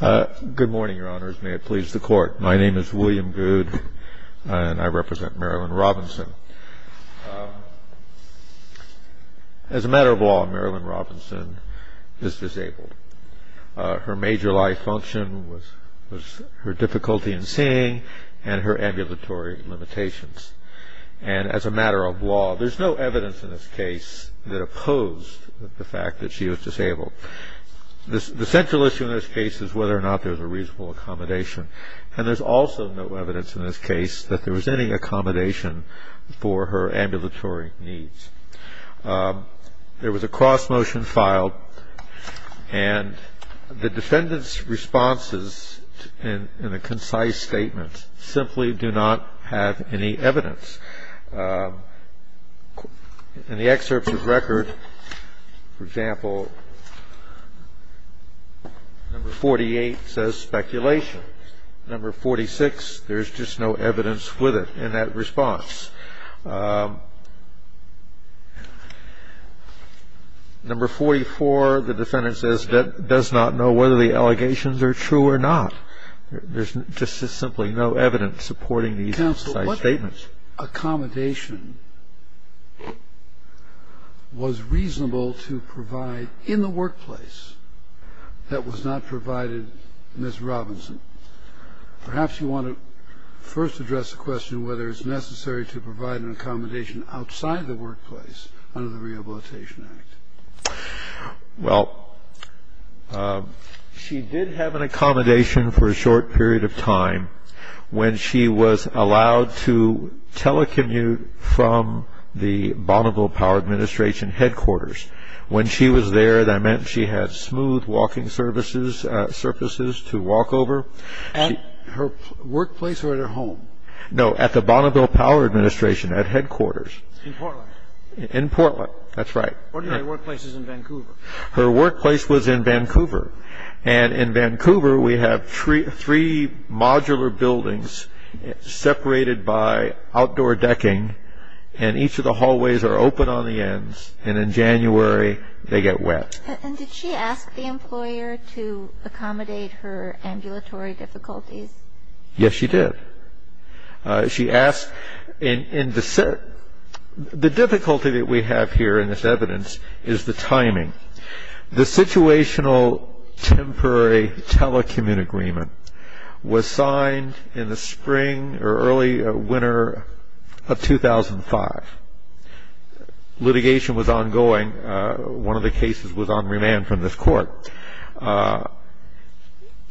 Good morning, Your Honors. May it please the Court. My name is William Goode, and I represent Marilynne Robinson. As a matter of law, Marilynne Robinson is disabled. Her major life function was her difficulty in seeing and her ambulatory limitations. And as a matter of law, there's no evidence in this case that opposed the fact that she was disabled. The central issue in this case is whether or not there's a reasonable accommodation. And there's also no evidence in this case that there was any accommodation for her ambulatory needs. There was a cross-motion filed, and the defendant's responses in a concise statement simply do not have any evidence. In the excerpts of record, for example, number 48 says speculation. Number 46, there's just no evidence with it in that response. Number 44, the defendant says does not know whether the allegations are true or not. There's just simply no evidence supporting these concise statements. Now, the question is whether or not this accommodation was reasonable to provide in the workplace that was not provided in Ms. Robinson. Perhaps you want to first address the question whether it's necessary to provide an accommodation outside the workplace under the Rehabilitation Act. Well, she did have an accommodation for a short period of time when she was allowed to telecommute from the Bonneville Power Administration headquarters. When she was there, that meant she had smooth walking surfaces to walk over. At her workplace or at her home? No, at the Bonneville Power Administration, at headquarters. In Portland? In Portland, that's right. Her workplace is in Vancouver. Her workplace was in Vancouver. And in Vancouver, we have three modular buildings separated by outdoor decking, and each of the hallways are open on the ends, and in January, they get wet. And did she ask the employer to accommodate her ambulatory difficulties? Yes, she did. The difficulty that we have here in this evidence is the timing. The situational temporary telecommute agreement was signed in the spring or early winter of 2005. Litigation was ongoing. One of the cases was on remand from this court.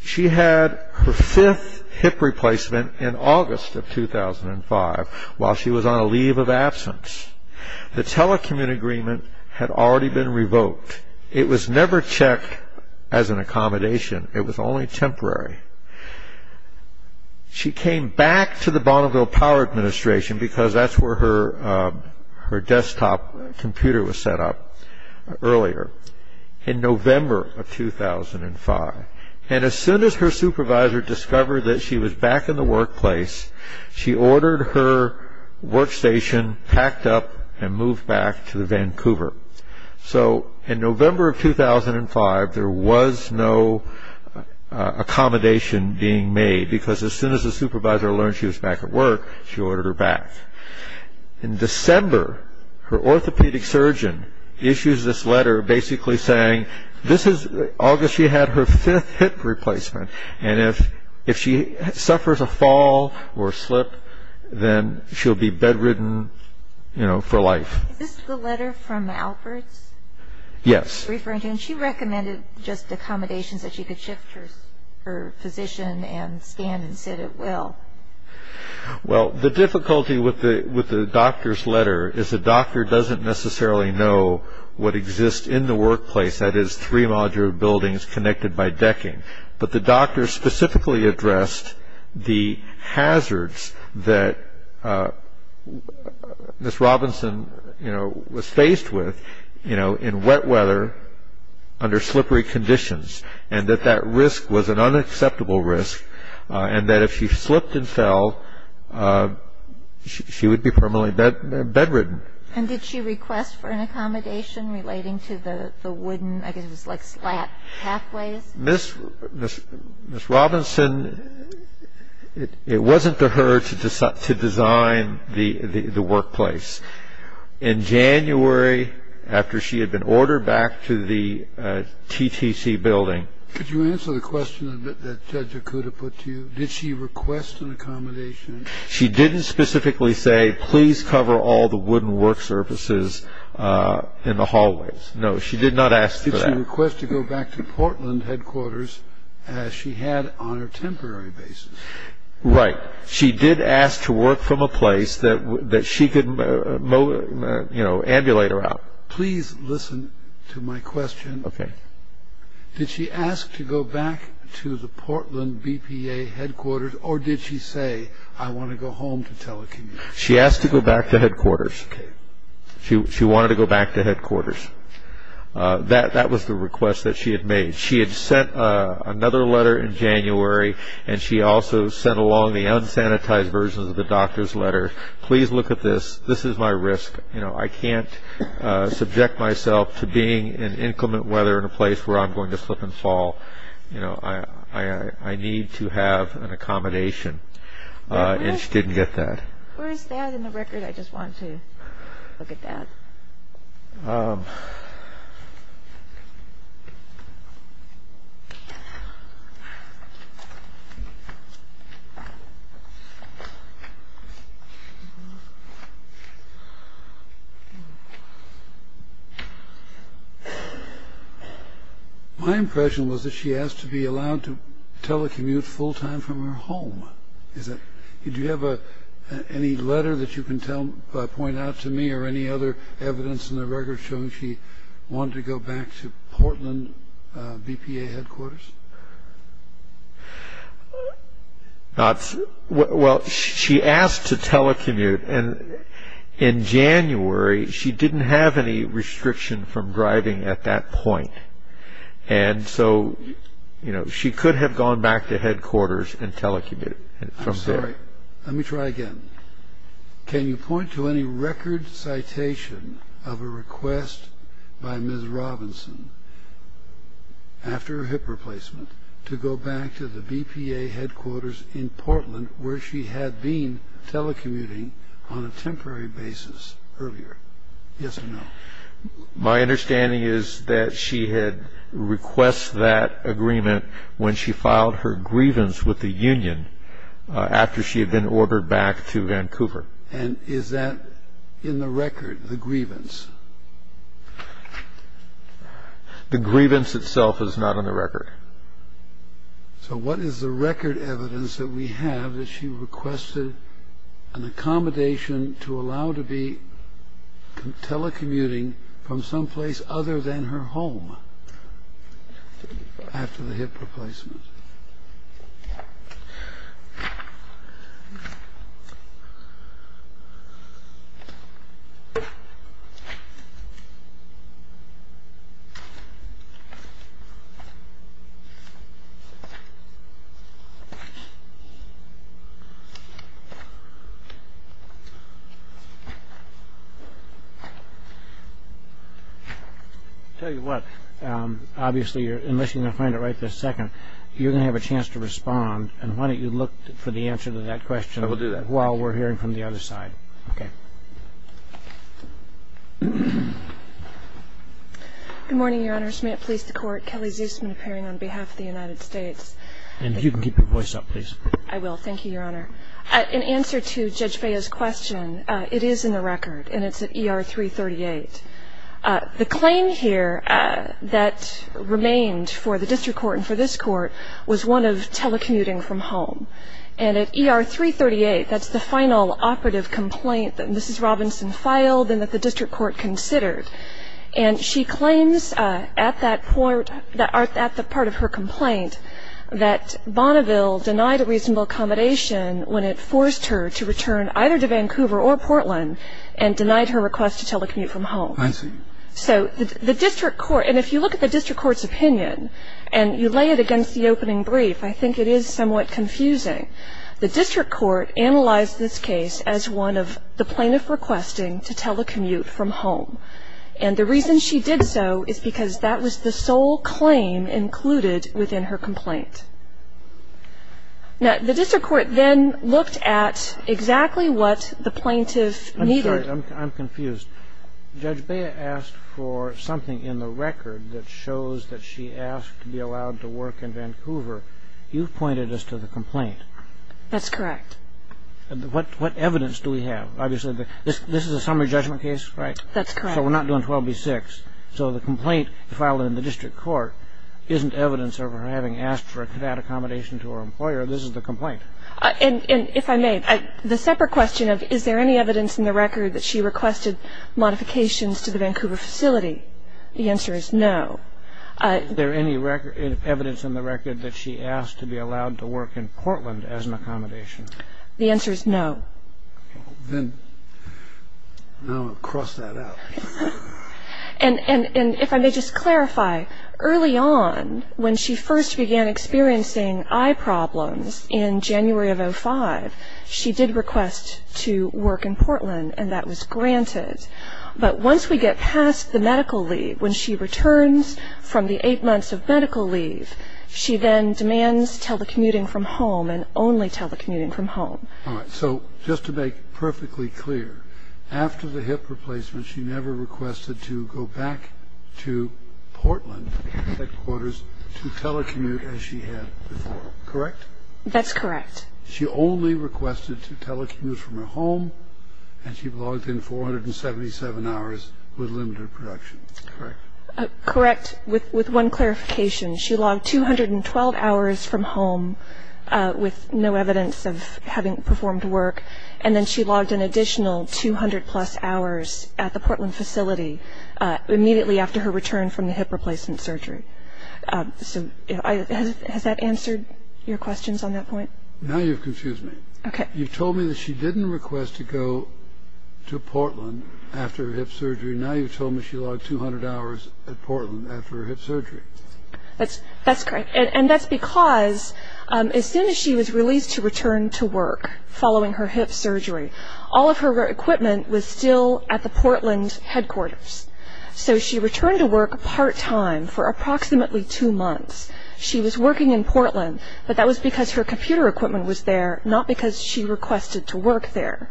She had her fifth hip replacement in August of 2005 while she was on a leave of absence. The telecommute agreement had already been revoked. It was never checked as an accommodation. It was only temporary. She came back to the Bonneville Power Administration because that's where her desktop computer was set up earlier. In November of 2005, and as soon as her supervisor discovered that she was back in the workplace, she ordered her workstation packed up and moved back to Vancouver. So in November of 2005, there was no accommodation being made because as soon as the supervisor learned she was back at work, she ordered her back. In December, her orthopedic surgeon issues this letter basically saying, this is August, she had her fifth hip replacement, and if she suffers a fall or a slip, then she'll be bedridden for life. Is this the letter from Alberts? Yes. She recommended just accommodations that she could shift her physician and stand and sit at will. Well, the difficulty with the doctor's letter is the doctor doesn't necessarily know what exists in the workplace, that is three modular buildings connected by decking, but the doctor specifically addressed the hazards that Ms. Robinson was faced with in wet weather under slippery conditions and that that risk was an unacceptable risk and that if she slipped and fell, she would be permanently bedridden. And did she request for an accommodation relating to the wooden, I guess it was like slat, pathways? Ms. Robinson, it wasn't to her to design the workplace. In January, after she had been ordered back to the TTC building Could you answer the question that Judge Okuda put to you? Did she request an accommodation? She didn't specifically say, please cover all the wooden work surfaces in the hallways. No, she did not ask for that. Did she request to go back to Portland headquarters as she had on a temporary basis? Right. She did ask to work from a place that she could, you know, ambulate her out. Please listen to my question. Okay. Did she ask to go back to the Portland BPA headquarters or did she say, I want to go home to telecommute? She asked to go back to headquarters. Okay. She wanted to go back to headquarters. That was the request that she had made. She had sent another letter in January and she also sent along the unsanitized versions of the doctor's letter. Please look at this. This is my risk. You know, I can't subject myself to being in inclement weather in a place where I'm going to slip and fall. You know, I need to have an accommodation. And she didn't get that. Where is that in the record? I just wanted to look at that. My impression was that she asked to be allowed to telecommute full time from her home. Do you have any letter that you can point out to me or any other evidence in the record showing she wanted to go back to Portland BPA headquarters? Well, she asked to telecommute. And in January, she didn't have any restriction from driving at that point. And so, you know, she could have gone back to headquarters and telecommuted from there. I'm sorry. Let me try again. Can you point to any record citation of a request by Ms. Robinson after her hip replacement to go back to the BPA headquarters in Portland where she had been telecommuting on a temporary basis earlier? Yes or no. My understanding is that she had request that agreement when she filed her grievance with the union after she had been ordered back to Vancouver. And is that in the record, the grievance? The grievance itself is not on the record. So what is the record evidence that we have that she requested an accommodation to allow to be telecommuting from someplace other than her home after the hip replacement? I'll tell you what. Obviously, unless you're going to find it right this second, you're going to have a chance to respond. And why don't you look for the answer to that question while we're hearing from the other side. Okay. Good morning, Your Honors. May it please the Court. Kelly Zusman appearing on behalf of the United States. And if you can keep your voice up, please. I will. Thank you, Your Honor. In answer to Judge Faya's question, it is in the record, and it's at ER 338. The claim here that remained for the district court and for this court was one of telecommuting from home. And at ER 338, that's the final operative complaint that Mrs. Robinson filed and that the district court considered. And she claims at that point, at the part of her complaint, that Bonneville denied a reasonable accommodation when it forced her to return either to Vancouver or Portland and denied her request to telecommute from home. I see. So the district court, and if you look at the district court's opinion, and you lay it against the opening brief, I think it is somewhat confusing. The district court analyzed this case as one of the plaintiff requesting to telecommute from home. And the reason she did so is because that was the sole claim included within her complaint. Now, the district court then looked at exactly what the plaintiff needed. I'm sorry. I'm confused. Judge Faya asked for something in the record that shows that she asked to be allowed to work in Vancouver. You've pointed us to the complaint. That's correct. What evidence do we have? Obviously, this is a summary judgment case, right? That's correct. So we're not doing 12B6. So the complaint filed in the district court isn't evidence of her having asked for a cadet accommodation to her employer. This is the complaint. And if I may, the separate question of is there any evidence in the record that she requested modifications to the Vancouver facility, the answer is no. Is there any evidence in the record that she asked to be allowed to work in Portland as an accommodation? The answer is no. Then I'm going to cross that out. And if I may just clarify, early on, when she first began experiencing eye problems in January of 2005, she did request to work in Portland, and that was granted. But once we get past the medical leave, when she returns from the eight months of medical leave, she then demands telecommuting from home and only telecommuting from home. All right. So just to make it perfectly clear, after the hip replacement, she never requested to go back to Portland headquarters to telecommute as she had before, correct? That's correct. She only requested to telecommute from her home, and she logged in 477 hours with limited production, correct? Correct. With one clarification, she logged 212 hours from home with no evidence of having performed work, and then she logged an additional 200-plus hours at the Portland facility immediately after her return from the hip replacement surgery. So has that answered your questions on that point? Now you've confused me. Okay. You've told me that she didn't request to go to Portland after her hip surgery. Now you've told me she logged 200 hours at Portland after her hip surgery. That's correct. And that's because as soon as she was released to return to work following her hip surgery, all of her equipment was still at the Portland headquarters. So she returned to work part-time for approximately two months. She was working in Portland, but that was because her computer equipment was there, not because she requested to work there.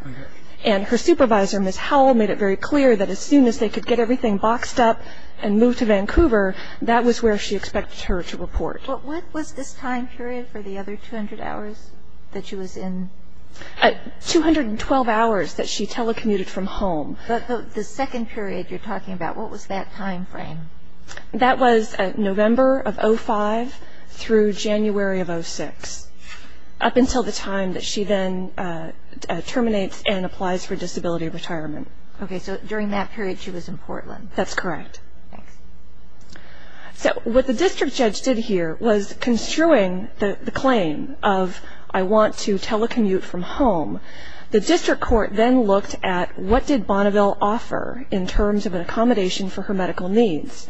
And her supervisor, Ms. Howell, made it very clear that as soon as they could get everything boxed up and move to Vancouver, that was where she expected her to report. What was this time period for the other 200 hours that she was in? 212 hours that she telecommuted from home. The second period you're talking about, what was that time frame? That was November of 2005 through January of 2006, up until the time that she then terminates and applies for disability retirement. Okay, so during that period she was in Portland. That's correct. Thanks. So what the district judge did here was construing the claim of, I want to telecommute from home. The district court then looked at what did Bonneville offer in terms of an accommodation for her medical needs.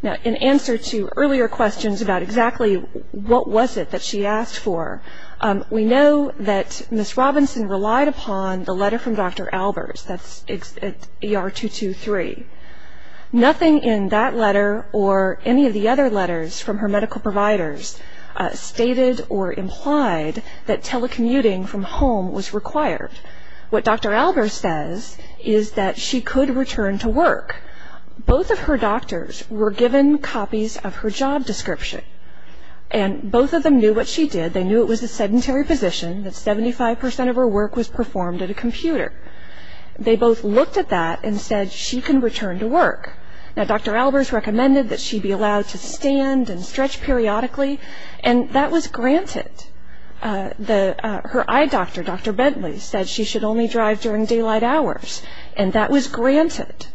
Now, in answer to earlier questions about exactly what was it that she asked for, we know that Ms. Robinson relied upon the letter from Dr. Albers, that's ER-223. Nothing in that letter or any of the other letters from her medical providers stated or implied that telecommuting from home was required. What Dr. Albers says is that she could return to work. Both of her doctors were given copies of her job description, and both of them knew what she did. They knew it was a sedentary position, that 75% of her work was performed at a computer. They both looked at that and said she can return to work. Now, Dr. Albers recommended that she be allowed to stand and stretch periodically, and that was granted. Her eye doctor, Dr. Bentley, said she should only drive during daylight hours, and that was granted.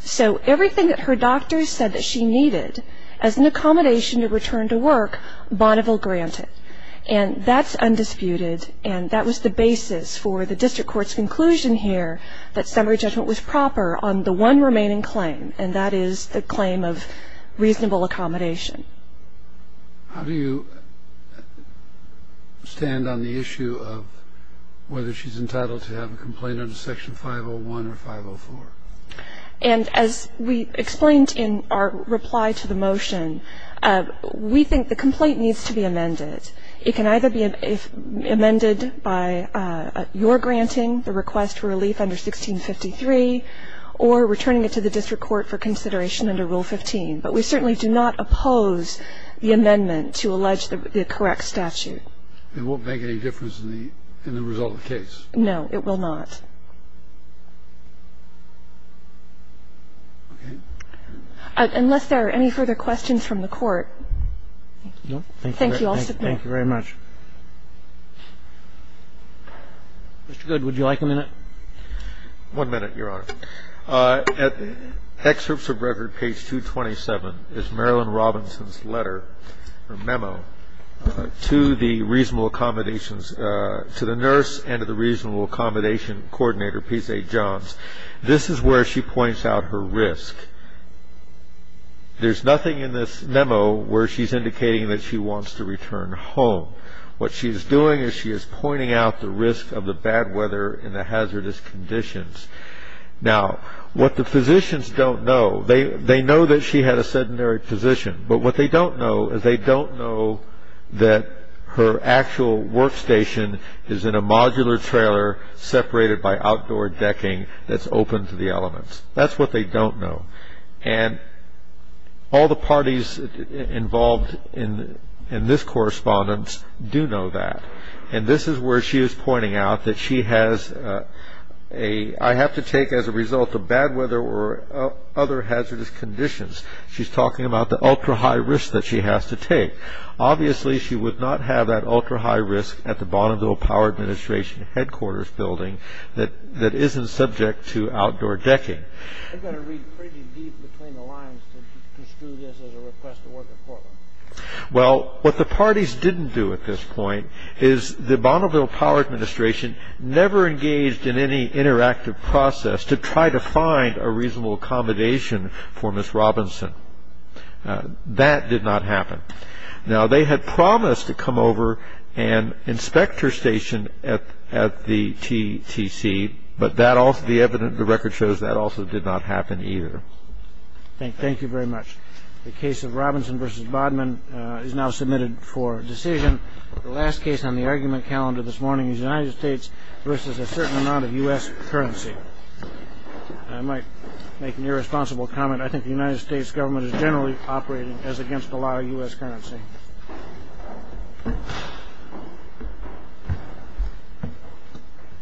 So everything that her doctors said that she needed as an accommodation to return to work, Bonneville granted. And that's undisputed, and that was the basis for the district court's conclusion here that summary judgment was proper on the one remaining claim, and that is the claim of reasonable accommodation. How do you stand on the issue of whether she's entitled to have a complaint under Section 501 or 504? And as we explained in our reply to the motion, we think the complaint needs to be amended. It can either be amended by your granting the request for relief under 1653 or returning it to the district court for consideration under Rule 15. But we certainly do not oppose the amendment to allege the correct statute. It won't make any difference in the result of the case? No, it will not. Okay. Unless there are any further questions from the Court, thank you all so much. Thank you very much. Mr. Goode, would you like a minute? One minute, Your Honor. Excerpts of record page 227 is Marilyn Robinson's letter or memo to the reasonable accommodations, to the nurse and to the reasonable accommodation coordinator, P.J. Johns. This is where she points out her risk. There's nothing in this memo where she's indicating that she wants to return home. What she's doing is she is pointing out the risk of the bad weather and the hazardous conditions. Now, what the physicians don't know, they know that she had a sedentary position, but what they don't know is they don't know that her actual workstation is in a modular trailer, separated by outdoor decking that's open to the elements. That's what they don't know. And all the parties involved in this correspondence do know that. And this is where she is pointing out that she has a, I have to take as a result of bad weather or other hazardous conditions. She's talking about the ultra-high risk that she has to take. Obviously, she would not have that ultra-high risk at the Bonneville Power Administration headquarters building that isn't subject to outdoor decking. I've got to read pretty deep between the lines to construe this as a request to work at Portland. Well, what the parties didn't do at this point is the Bonneville Power Administration never engaged in any interactive process to try to find a reasonable accommodation for Ms. Robinson. That did not happen. Now, they had promised to come over and inspect her station at the TTC, but the record shows that also did not happen either. Thank you very much. The case of Robinson v. Bodman is now submitted for decision. The last case on the argument calendar this morning is United States v. a certain amount of U.S. currency. I might make an irresponsible comment. I think the United States government is generally operating as against a lot of U.S. currency.